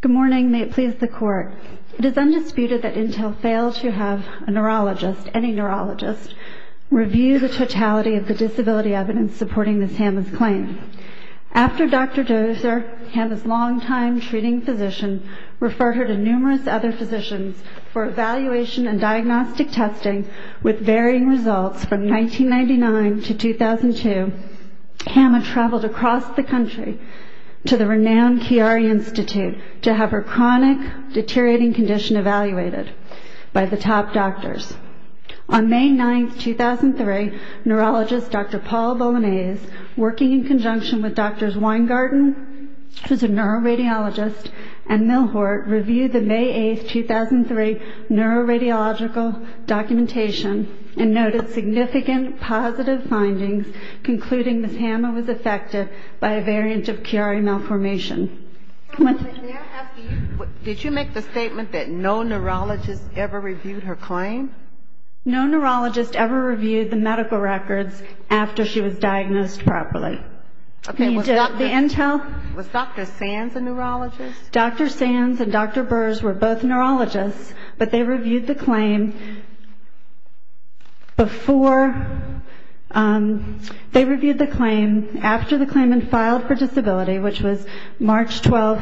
Good morning, may it please the Court. It is undisputed that Intel failed to have a neurologist, any neurologist, review the totality of the disability evidence supporting Ms. Hamma's claim. After Dr. Dozer, Hamma's long-time treating physician, referred her to numerous other physicians for evaluation and diagnostic testing with varying results from 1999 to 2002, Hamma traveled across the country to the renowned Chiari Institute to have her chronic, deteriorating condition evaluated by the top doctors. On May 9, 2003, neurologist Dr. Paul Bolognese, working in conjunction with Drs. Weingarten, who is a neuroradiologist, and Millhort, reviewed the May 8, 2003, neuroradiological documentation and noted significant positive findings concluding Ms. Hamma was affected by a variant of Chiari malformation. Did you make the statement that no neurologist ever reviewed her claim? No neurologist ever reviewed the medical records after she was diagnosed properly. Was Dr. Sands a neurologist? Dr. Sands and Dr. Burrs were both neurologists, but they reviewed the claim after the claim had been filed for disability, which was March 12,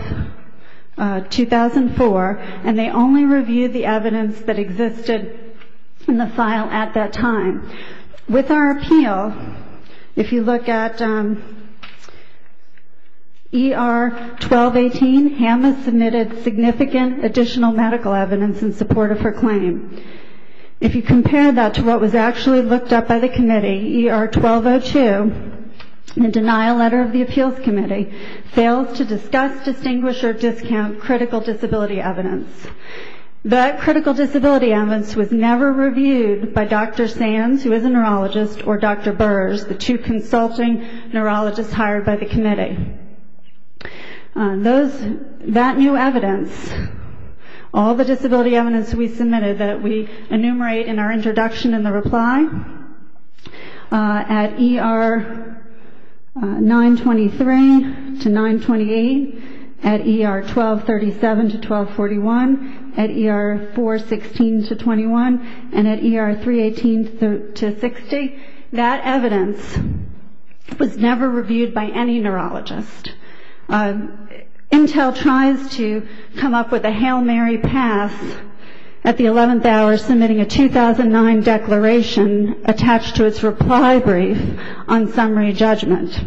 2004, and they only reviewed the evidence that existed in the file at that time. With our appeal, if you look at ER 1218, Hamma submitted significant additional medical evidence in support of her claim. If you compare that to what was actually looked up by the committee, ER 1202, the denial letter of the appeals committee, fails to discuss, distinguish, or discount critical disability evidence. That critical disability evidence was never reviewed by Dr. Sands, who is a neurologist, or Dr. Burrs, the two consulting neurologists hired by the committee. That new evidence, all the disability evidence we submitted that we enumerate in our introduction and the reply, at ER 923 to 928, at ER 1237 to 1241, at ER 416 to 21, and at ER 318 to 60, that evidence was never reviewed by any neurologist. Intel tries to come up with a Hail Mary pass at the 11th hour submitting a 2009 declaration attached to its reply brief on summary judgment.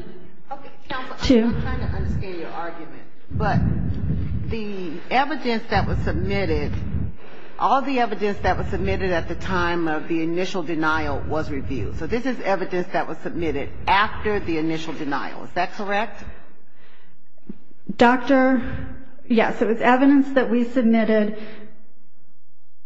I'm trying to understand your argument, but the evidence that was submitted, all the evidence that was submitted at the time of the initial denial was reviewed. So this is evidence that was submitted after the initial denial, is that correct? Yes, it was evidence that we submitted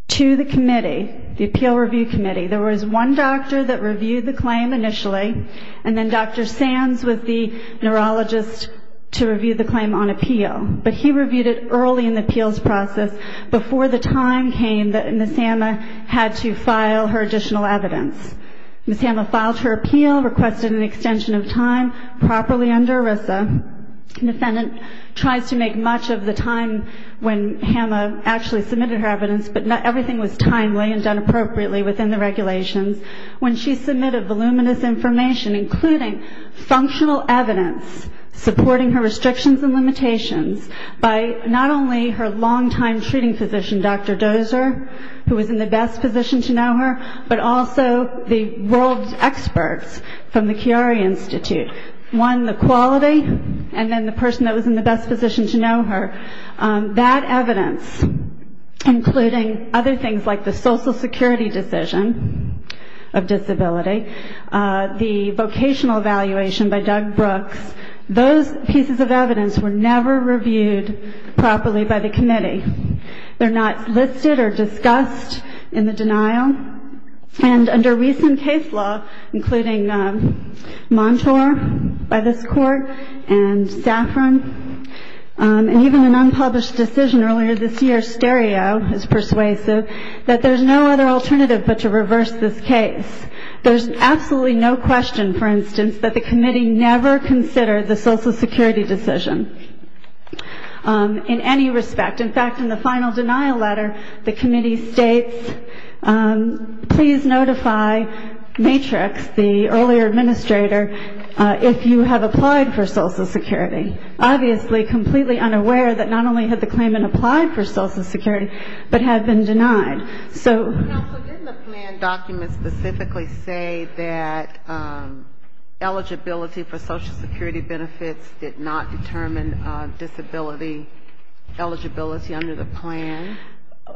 to the committee, the appeal review committee. There was one doctor that reviewed the claim initially, and then Dr. Sands was the neurologist to review the claim on appeal. But he reviewed it early in the appeals process, before the time came that Ms. Hama had to file her additional evidence. Ms. Hama filed her appeal, requested an extension of time properly under ERISA. An defendant tries to make much of the time when Hama actually submitted her evidence, but everything was timely and done appropriately within the regulations. When she submitted voluminous information, including functional evidence supporting her restrictions and limitations, by not only her longtime treating physician, Dr. Dozer, who was in the best position to know her, but also the world's experts from the Chiari Institute. One, the quality, and then the person that was in the best position to know her. That evidence, including other things like the Social Security decision of disability, the vocational evaluation by Doug Brooks, those pieces of evidence were never reviewed properly by the committee. They're not listed or discussed in the denial. And under recent case law, including Montour by this court, and Saffron, and even an unpublished decision earlier this year, Stereo, is persuasive, that there's no other alternative but to reverse this case. There's absolutely no question, for instance, that the committee never considered the Social Security decision in any respect. In fact, in the final denial letter, the committee states, please notify Matrix, the earlier administrator, if you have applied for Social Security. Obviously, completely unaware that not only had the claimant applied for Social Security, but had been denied. So didn't the plan document specifically say that eligibility for Social Security benefits did not determine disability eligibility under the plan?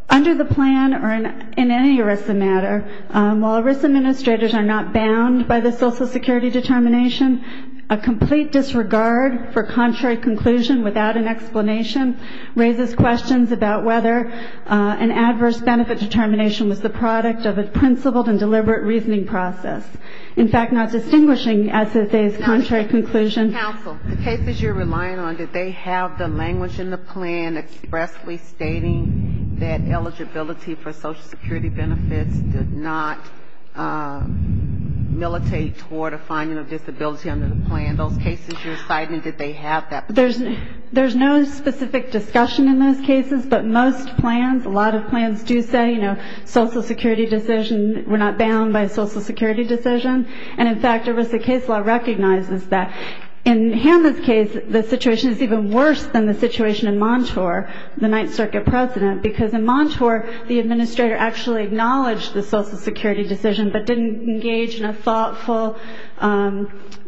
Under the plan or in any ERISA matter, while ERISA administrators are not bound by the Social Security determination, a complete disregard for contrary conclusion without an explanation raises questions about whether an adverse benefit determination was the product of a principled and deliberate reasoning process. In fact, not distinguishing SSA's contrary conclusion. Counsel, the cases you're relying on, did they have the language in the plan expressly stating that eligibility for Social Security benefits did not militate toward a finding of disability under the plan? Those cases you're citing, did they have that? There's no specific discussion in those cases, but most plans, a lot of plans do say, you know, Social Security decision, we're not bound by a Social Security decision. And in fact, ERISA case law recognizes that. In Hanna's case, the situation is even worse than the situation in Montour, the Ninth Circuit president, because in Montour, the administrator actually acknowledged the Social Security decision, but didn't engage in a thoughtful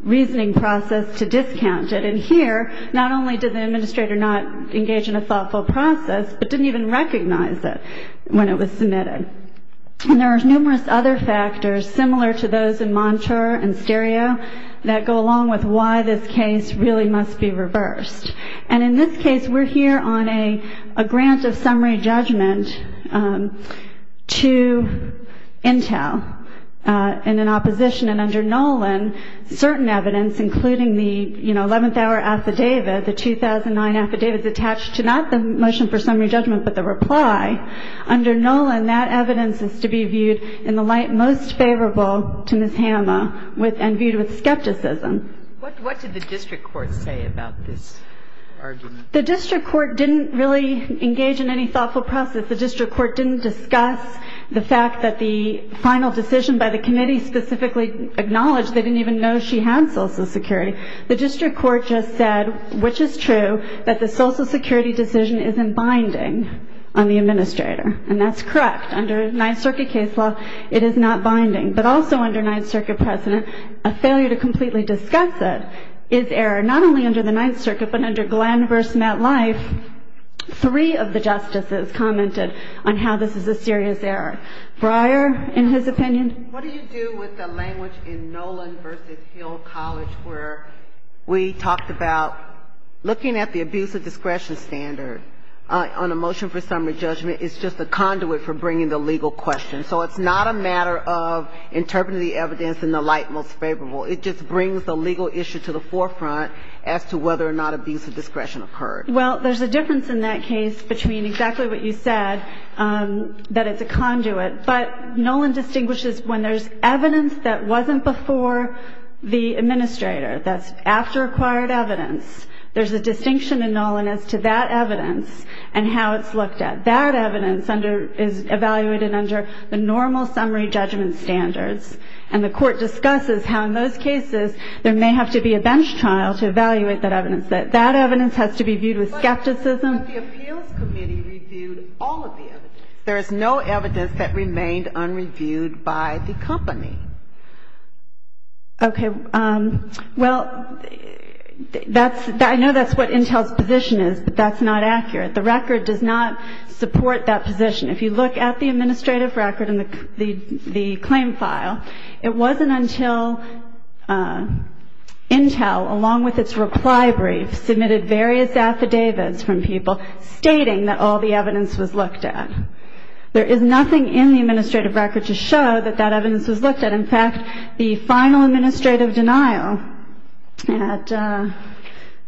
reasoning process to discount it. And here, not only did the administrator not engage in a thoughtful process, but didn't even recognize it when it was submitted. And there are numerous other factors similar to those in Montour and Stereo that go along with why this case really must be reversed. And in this case, we're here on a grant of summary judgment to Intel in an opposition, and under Nolan, certain evidence, including the, you know, 11th hour affidavit, the 2009 affidavit is attached to not the motion for summary judgment, but the reply. Under Nolan, that evidence is to be viewed in the light most favorable to Ms. Hanna and viewed with skepticism. What did the district court say about this argument? The district court didn't really engage in any thoughtful process. The district court didn't discuss the fact that the final decision by the committee specifically acknowledged they didn't even know she had Social Security. The district court just said, which is true, that the Social Security decision isn't binding on the administrator. And that's correct. Under Ninth Circuit case law, it is not binding. But also under Ninth Circuit precedent, a failure to completely discuss it is error. Not only under the Ninth Circuit, but under Glenn v. Matt Life, three of the justices commented on how this is a serious error. Breyer, in his opinion? What do you do with the language in Nolan v. Hill College where we talked about looking at the abuse of discretion standard on a motion for summary judgment is just a conduit for bringing the legal question. So it's not a matter of interpreting the evidence in the light most favorable. It just brings the legal issue to the forefront as to whether or not abuse of discretion occurred. Well, there's a difference in that case between exactly what you said, that it's a conduit. But Nolan distinguishes when there's evidence that wasn't before the administrator, that's after acquired evidence. There's a distinction in Nolan as to that evidence and how it's looked at. That evidence is evaluated under the normal summary judgment standards. And the Court discusses how in those cases there may have to be a bench trial to evaluate that evidence. That evidence has to be viewed with skepticism. But the appeals committee reviewed all of the evidence. There is no evidence that remained unreviewed by the company. Okay. Well, that's – I know that's what Intel's position is, but that's not accurate. The record does not support that position. If you look at the administrative record and the claim file, it wasn't until Intel, along with its reply brief, submitted various affidavits from people stating that all the evidence was looked at. There is nothing in the administrative record to show that that evidence was looked at. In fact, the final administrative denial at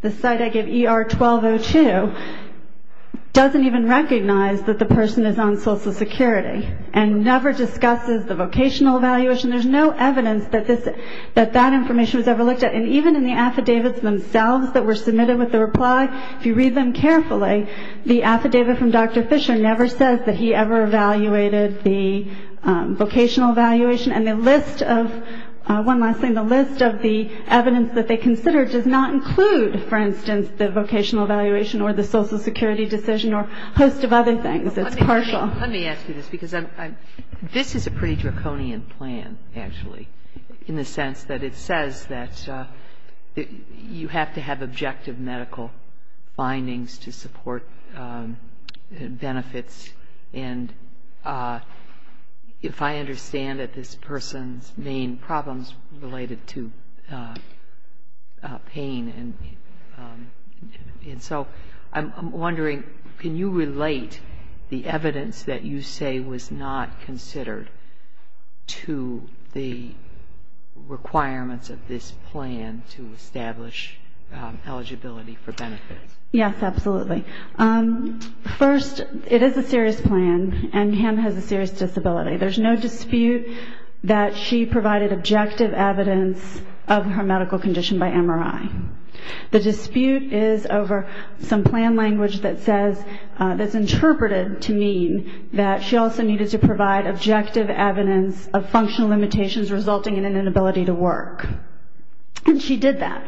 the site I gave, ER 1202, doesn't even recognize that the person is on Social Security and never discusses the vocational evaluation. There's no evidence that that information was ever looked at. And even in the affidavits themselves that were submitted with the reply, if you read them carefully, the affidavit from Dr. Fisher never says that he ever evaluated the vocational evaluation. And the list of – one last thing. The list of the evidence that they consider does not include, for instance, the vocational evaluation or the Social Security decision or a host of other things. It's partial. Let me ask you this, because this is a pretty draconian plan, actually, in the sense that it says that you have to have objective medical findings to support benefits. And if I understand it, this person's main problem is related to pain. And so I'm wondering, can you relate the evidence that you say was not considered to the requirements of this plan to establish eligibility for benefits? Yes, absolutely. First, it is a serious plan, and Pam has a serious disability. There's no dispute that she provided objective evidence of her medical condition by MRI. The dispute is over some plan language that says – that's interpreted to mean that she also needed to provide objective evidence of functional limitations resulting in an inability to work. And she did that.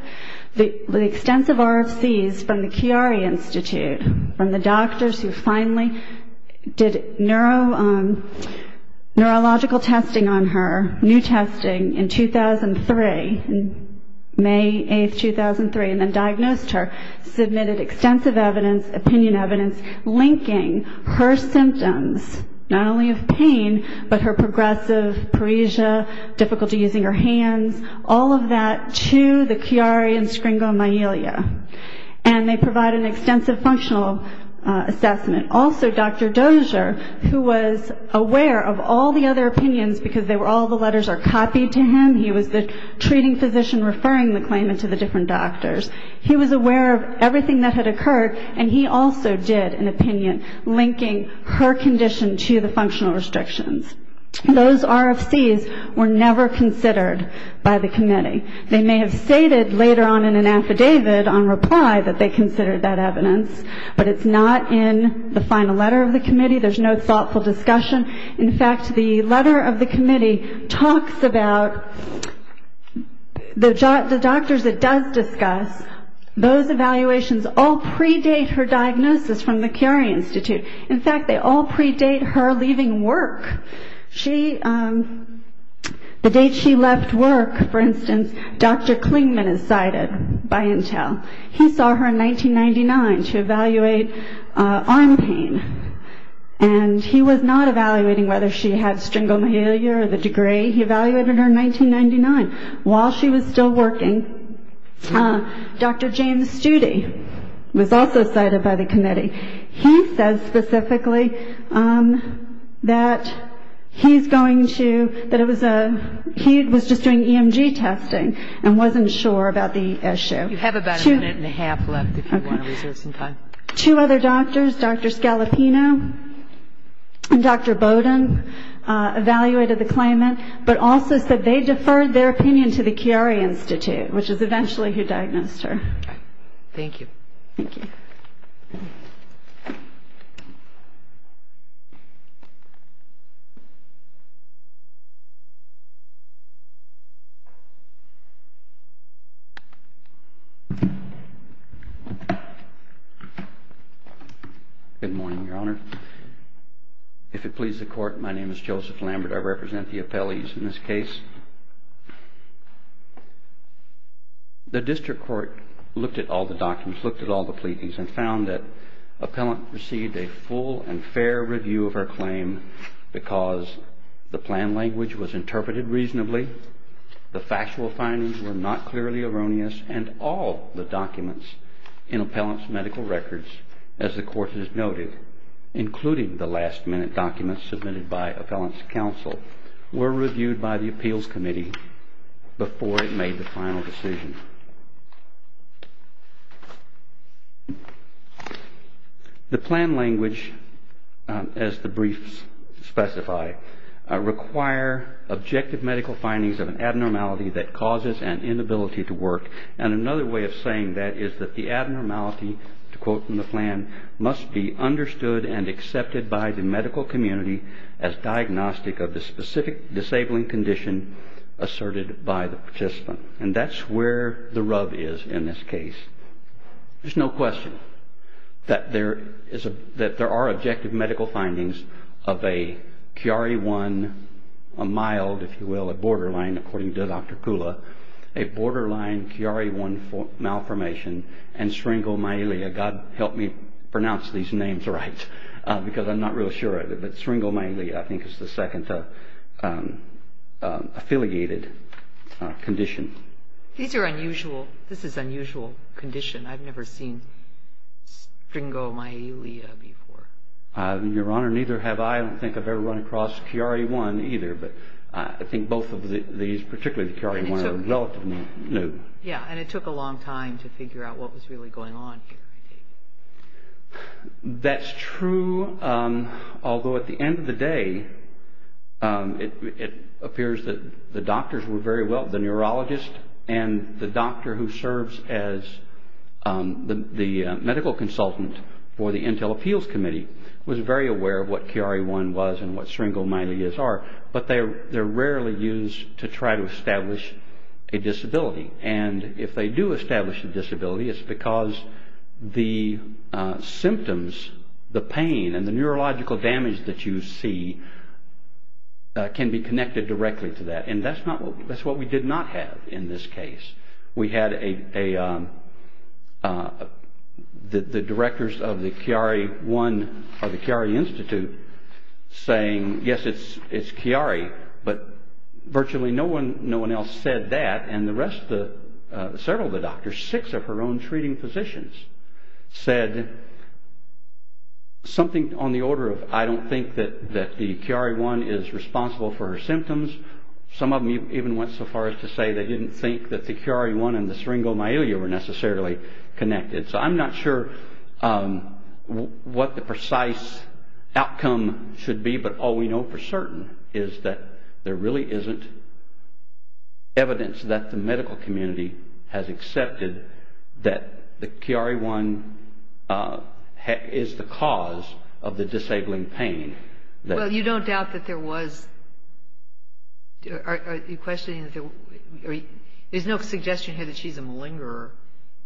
The extensive RFCs from the Chiari Institute, from the doctors who finally did neurological testing on her, new testing in 2003, May 8, 2003, and then diagnosed her, submitted extensive evidence, opinion evidence, linking her symptoms, not only of pain, but her progressive apresia, difficulty using her hands, all of that to the Chiari and Scringo-Myelia. And they provide an extensive functional assessment. Also, Dr. Dozier, who was aware of all the other opinions because all the letters are copied to him. He was the treating physician referring the claimant to the different doctors. He was aware of everything that had occurred, and he also did an opinion linking her condition to the functional restrictions. Those RFCs were never considered by the committee. They may have stated later on in an affidavit on reply that they considered that evidence, but it's not in the final letter of the committee. There's no thoughtful discussion. In fact, the letter of the committee talks about the doctors it does discuss. Those evaluations all predate her diagnosis from the Chiari Institute. In fact, they all predate her leaving work. The date she left work, for instance, Dr. Klingman is cited by Intel. He saw her in 1999 to evaluate arm pain, and he was not evaluating whether she had Scringo-Myelia or the degree. He evaluated her in 1999 while she was still working. He says specifically that he was just doing EMG testing and wasn't sure about the issue. You have about a minute and a half left if you want to reserve some time. Two other doctors, Dr. Scalapino and Dr. Bowden, evaluated the claimant but also said they deferred their opinion to the Chiari Institute, which is eventually who diagnosed her. Thank you. Thank you. Good morning, Your Honor. If it pleases the Court, my name is Joseph Lambert. I represent the appellees in this case. The district court looked at all the documents, looked at all the pleadings, and found that appellant received a full and fair review of her claim because the plan language was interpreted reasonably, the factual findings were not clearly erroneous, and all the documents in appellant's medical records, as the Court has noted, including the last-minute documents submitted by appellant's counsel, were reviewed by the appeals committee before it made the final decision. The plan language, as the briefs specify, require objective medical findings of an abnormality that causes an inability to work, and another way of saying that is that the abnormality, to quote from the plan, must be understood and accepted by the medical community as diagnostic of the specific disabling condition asserted by the participant. And that's where the rub is in this case. There's no question that there are objective medical findings of a Chiari I, a mild, if you will, a borderline, according to Dr. Kula, a borderline Chiari I malformation and sphingomyelia. God help me pronounce these names right because I'm not really sure. But sphingomyelia I think is the second affiliated condition. These are unusual. This is unusual condition. I've never seen sphingomyelia before. Your Honor, neither have I. I don't think I've ever run across Chiari I either, but I think both of these, particularly the Chiari I, are relatively new. Yeah, and it took a long time to figure out what was really going on here. That's true, although at the end of the day it appears that the doctors were very well, the neurologist and the doctor who serves as the medical consultant for the Intel Appeals Committee was very aware of what Chiari I was and what sphingomyelias are, but they're rarely used to try to establish a disability. And if they do establish a disability, it's because the symptoms, the pain and the neurological damage that you see can be connected directly to that. And that's what we did not have in this case. We had the directors of the Chiari I or the Chiari Institute saying, yes, it's Chiari, but virtually no one else said that and several of the doctors, six of her own treating physicians, said something on the order of I don't think that the Chiari I is responsible for her symptoms. Some of them even went so far as to say they didn't think that the Chiari I and the sphingomyelia were necessarily connected. So I'm not sure what the precise outcome should be, but all we know for certain is that there really isn't evidence that the medical community has accepted that the Chiari I is the cause of the disabling pain. Well, you don't doubt that there was. Are you questioning? There's no suggestion here that she's a malingerer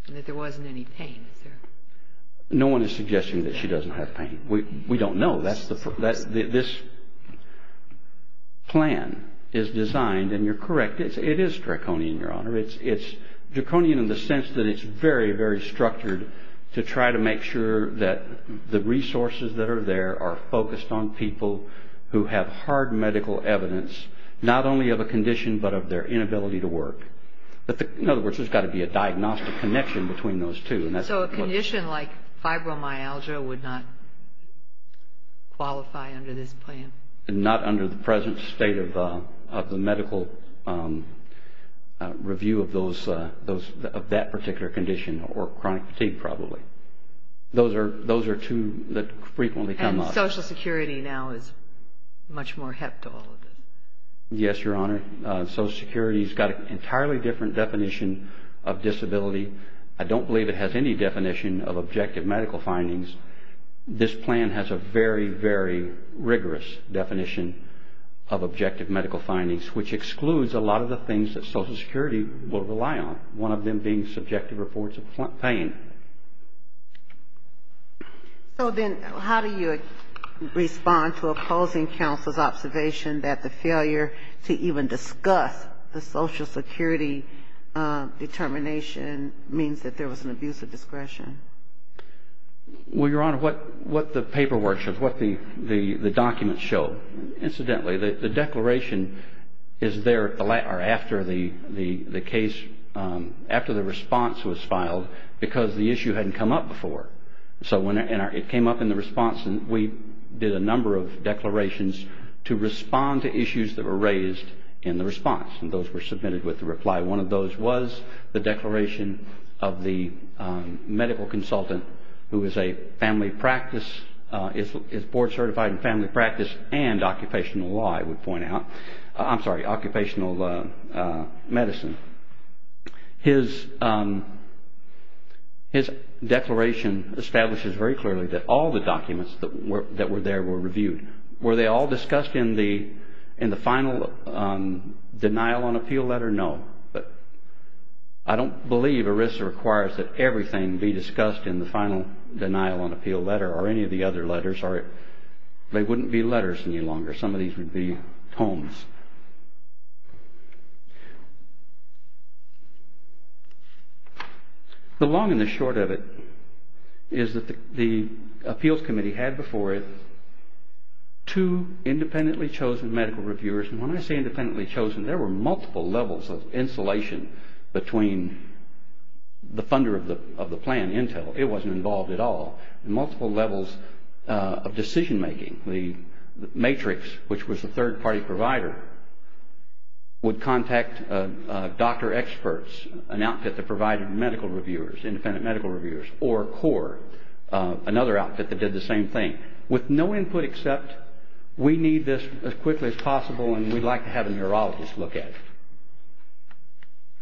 and that there wasn't any pain, is there? No one is suggesting that she doesn't have pain. We don't know. This plan is designed, and you're correct, it is draconian, Your Honor. It's draconian in the sense that it's very, very structured to try to make sure that the resources that are there are focused on people who have hard medical evidence not only of a condition but of their inability to work. In other words, there's got to be a diagnostic connection between those two. So a condition like fibromyalgia would not qualify under this plan? Not under the present state of the medical review of that particular condition or chronic fatigue, probably. Those are two that frequently come up. And Social Security now is much more heptal. Yes, Your Honor. Social Security's got an entirely different definition of disability. I don't believe it has any definition of objective medical findings. This plan has a very, very rigorous definition of objective medical findings, which excludes a lot of the things that Social Security will rely on, one of them being subjective reports of pain. So then how do you respond to opposing counsel's observation that the failure to even discuss the Social Security determination means that there was an abuse of discretion? Well, Your Honor, what the paperwork shows, what the documents show, incidentally, the declaration is there after the case, after the response was filed because the issue hadn't come up before. So when it came up in the response, we did a number of declarations to respond to issues that were raised in the response, and those were submitted with a reply. One of those was the declaration of the medical consultant who is a family practice, is board certified in family practice and occupational law, I would point out. I'm sorry, occupational medicine. His declaration establishes very clearly that all the documents that were there were reviewed. Were they all discussed in the final denial on appeal letter? No, but I don't believe ERISA requires that everything be discussed in the final denial on appeal letter or any of the other letters. They wouldn't be letters any longer. Some of these would be tomes. The long and the short of it is that the appeals committee had before it two independently chosen medical reviewers, and when I say independently chosen, there were multiple levels of insulation between the funder of the plan, Intel. It wasn't involved at all. Multiple levels of decision-making. The matrix, which was the third-party provider, would contact doctor experts, an outfit that provided medical reviewers, independent medical reviewers, or CORE, another outfit that did the same thing, with no input except, we need this as quickly as possible and we'd like to have a neurologist look at it.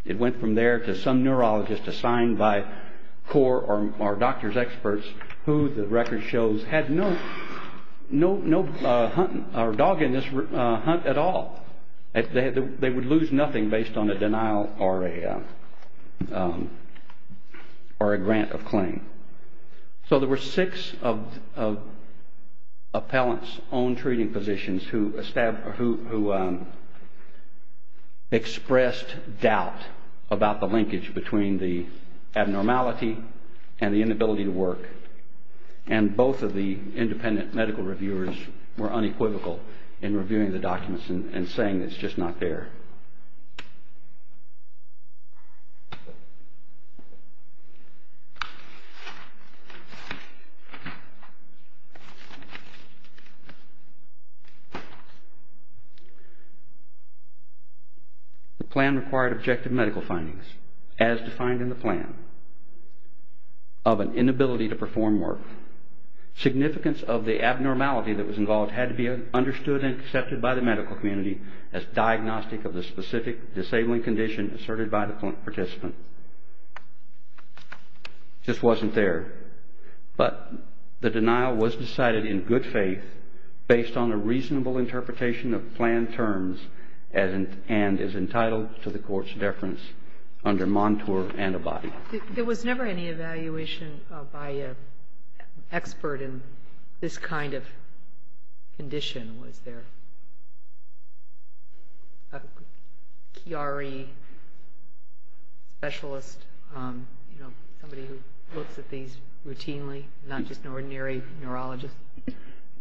It went from there to some neurologist assigned by CORE or doctor's experts who, the record shows, had no dog in this hunt at all. They would lose nothing based on a denial or a grant of claim. So there were six of Appellant's own treating physicians who expressed doubt about the linkage between the abnormality and the inability to work, and both of the independent medical reviewers were unequivocal in reviewing the documents and saying it's just not there. The plan required objective medical findings, as defined in the plan, of an inability to perform work. Significance of the abnormality that was involved had to be understood and accepted by the medical community as diagnostic of the specific disabling condition asserted by the participant. It just wasn't there. But the denial was decided in good faith based on a reasonable interpretation of planned terms and is entitled to the court's deference under Montour Antibody. There was never any evaluation by an expert in this kind of condition, was there? A Chiari specialist, you know, somebody who looks at these routinely, not just an ordinary neurologist?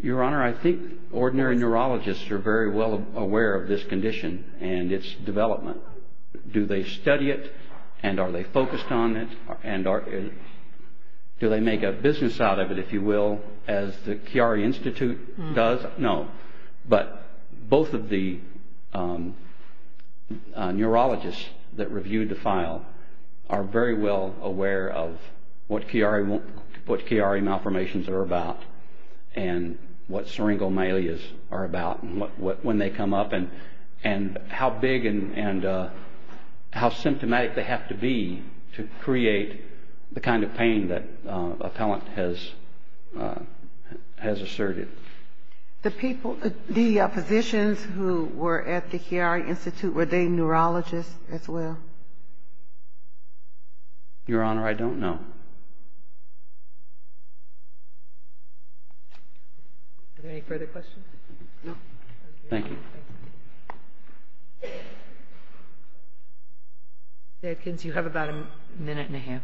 Your Honor, I think ordinary neurologists are very well aware of this condition and its development. Do they study it and are they focused on it? Do they make a business out of it, if you will, as the Chiari Institute does? No. But both of the neurologists that reviewed the file are very well aware of what Chiari malformations are about and what syringomalias are about and when they come up and how big and how symptomatic they have to be to create the kind of pain that a talent has asserted. The people, the physicians who were at the Chiari Institute, were they neurologists as well? Your Honor, I don't know. Are there any further questions? Thank you. Ms. Adkins, you have about a minute and a half.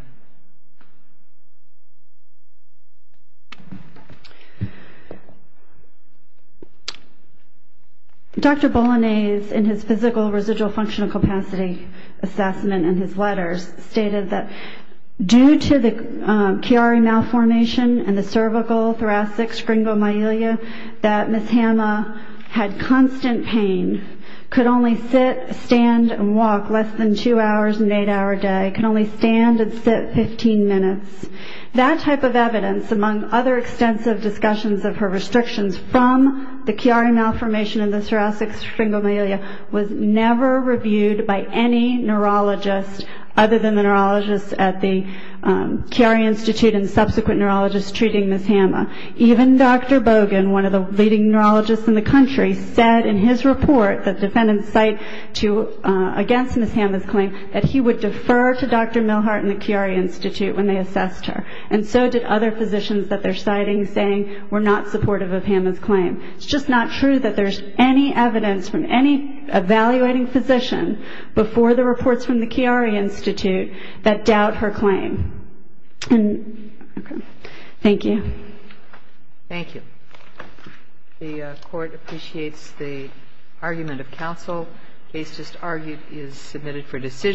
Dr. Bolognese, in his Physical Residual Functional Capacity assessment in his letters, stated that due to the Chiari malformation and the cervical thoracic syringomalia, that Ms. Hama had constant pain, could only sit, stand, and walk less than two hours in an eight-hour day, could only stand and sit 15 minutes. That type of evidence, among other extensive discussions of her restrictions from the Chiari malformation and the thoracic syringomalia, was never reviewed by any neurologist, other than the neurologists at the Chiari Institute and subsequent neurologists treating Ms. Hama. Even Dr. Bogan, one of the leading neurologists in the country, said in his report that defendants cite against Ms. Hama's claim that he would defer to Dr. Milhart and the Chiari Institute when they assessed her. And so did other physicians that they're citing, saying we're not supportive of Hama's claim. It's just not true that there's any evidence from any evaluating physician before the reports from the Chiari Institute that doubt her claim. Thank you. Thank you. The court appreciates the argument of counsel. The case just argued is submitted for decision.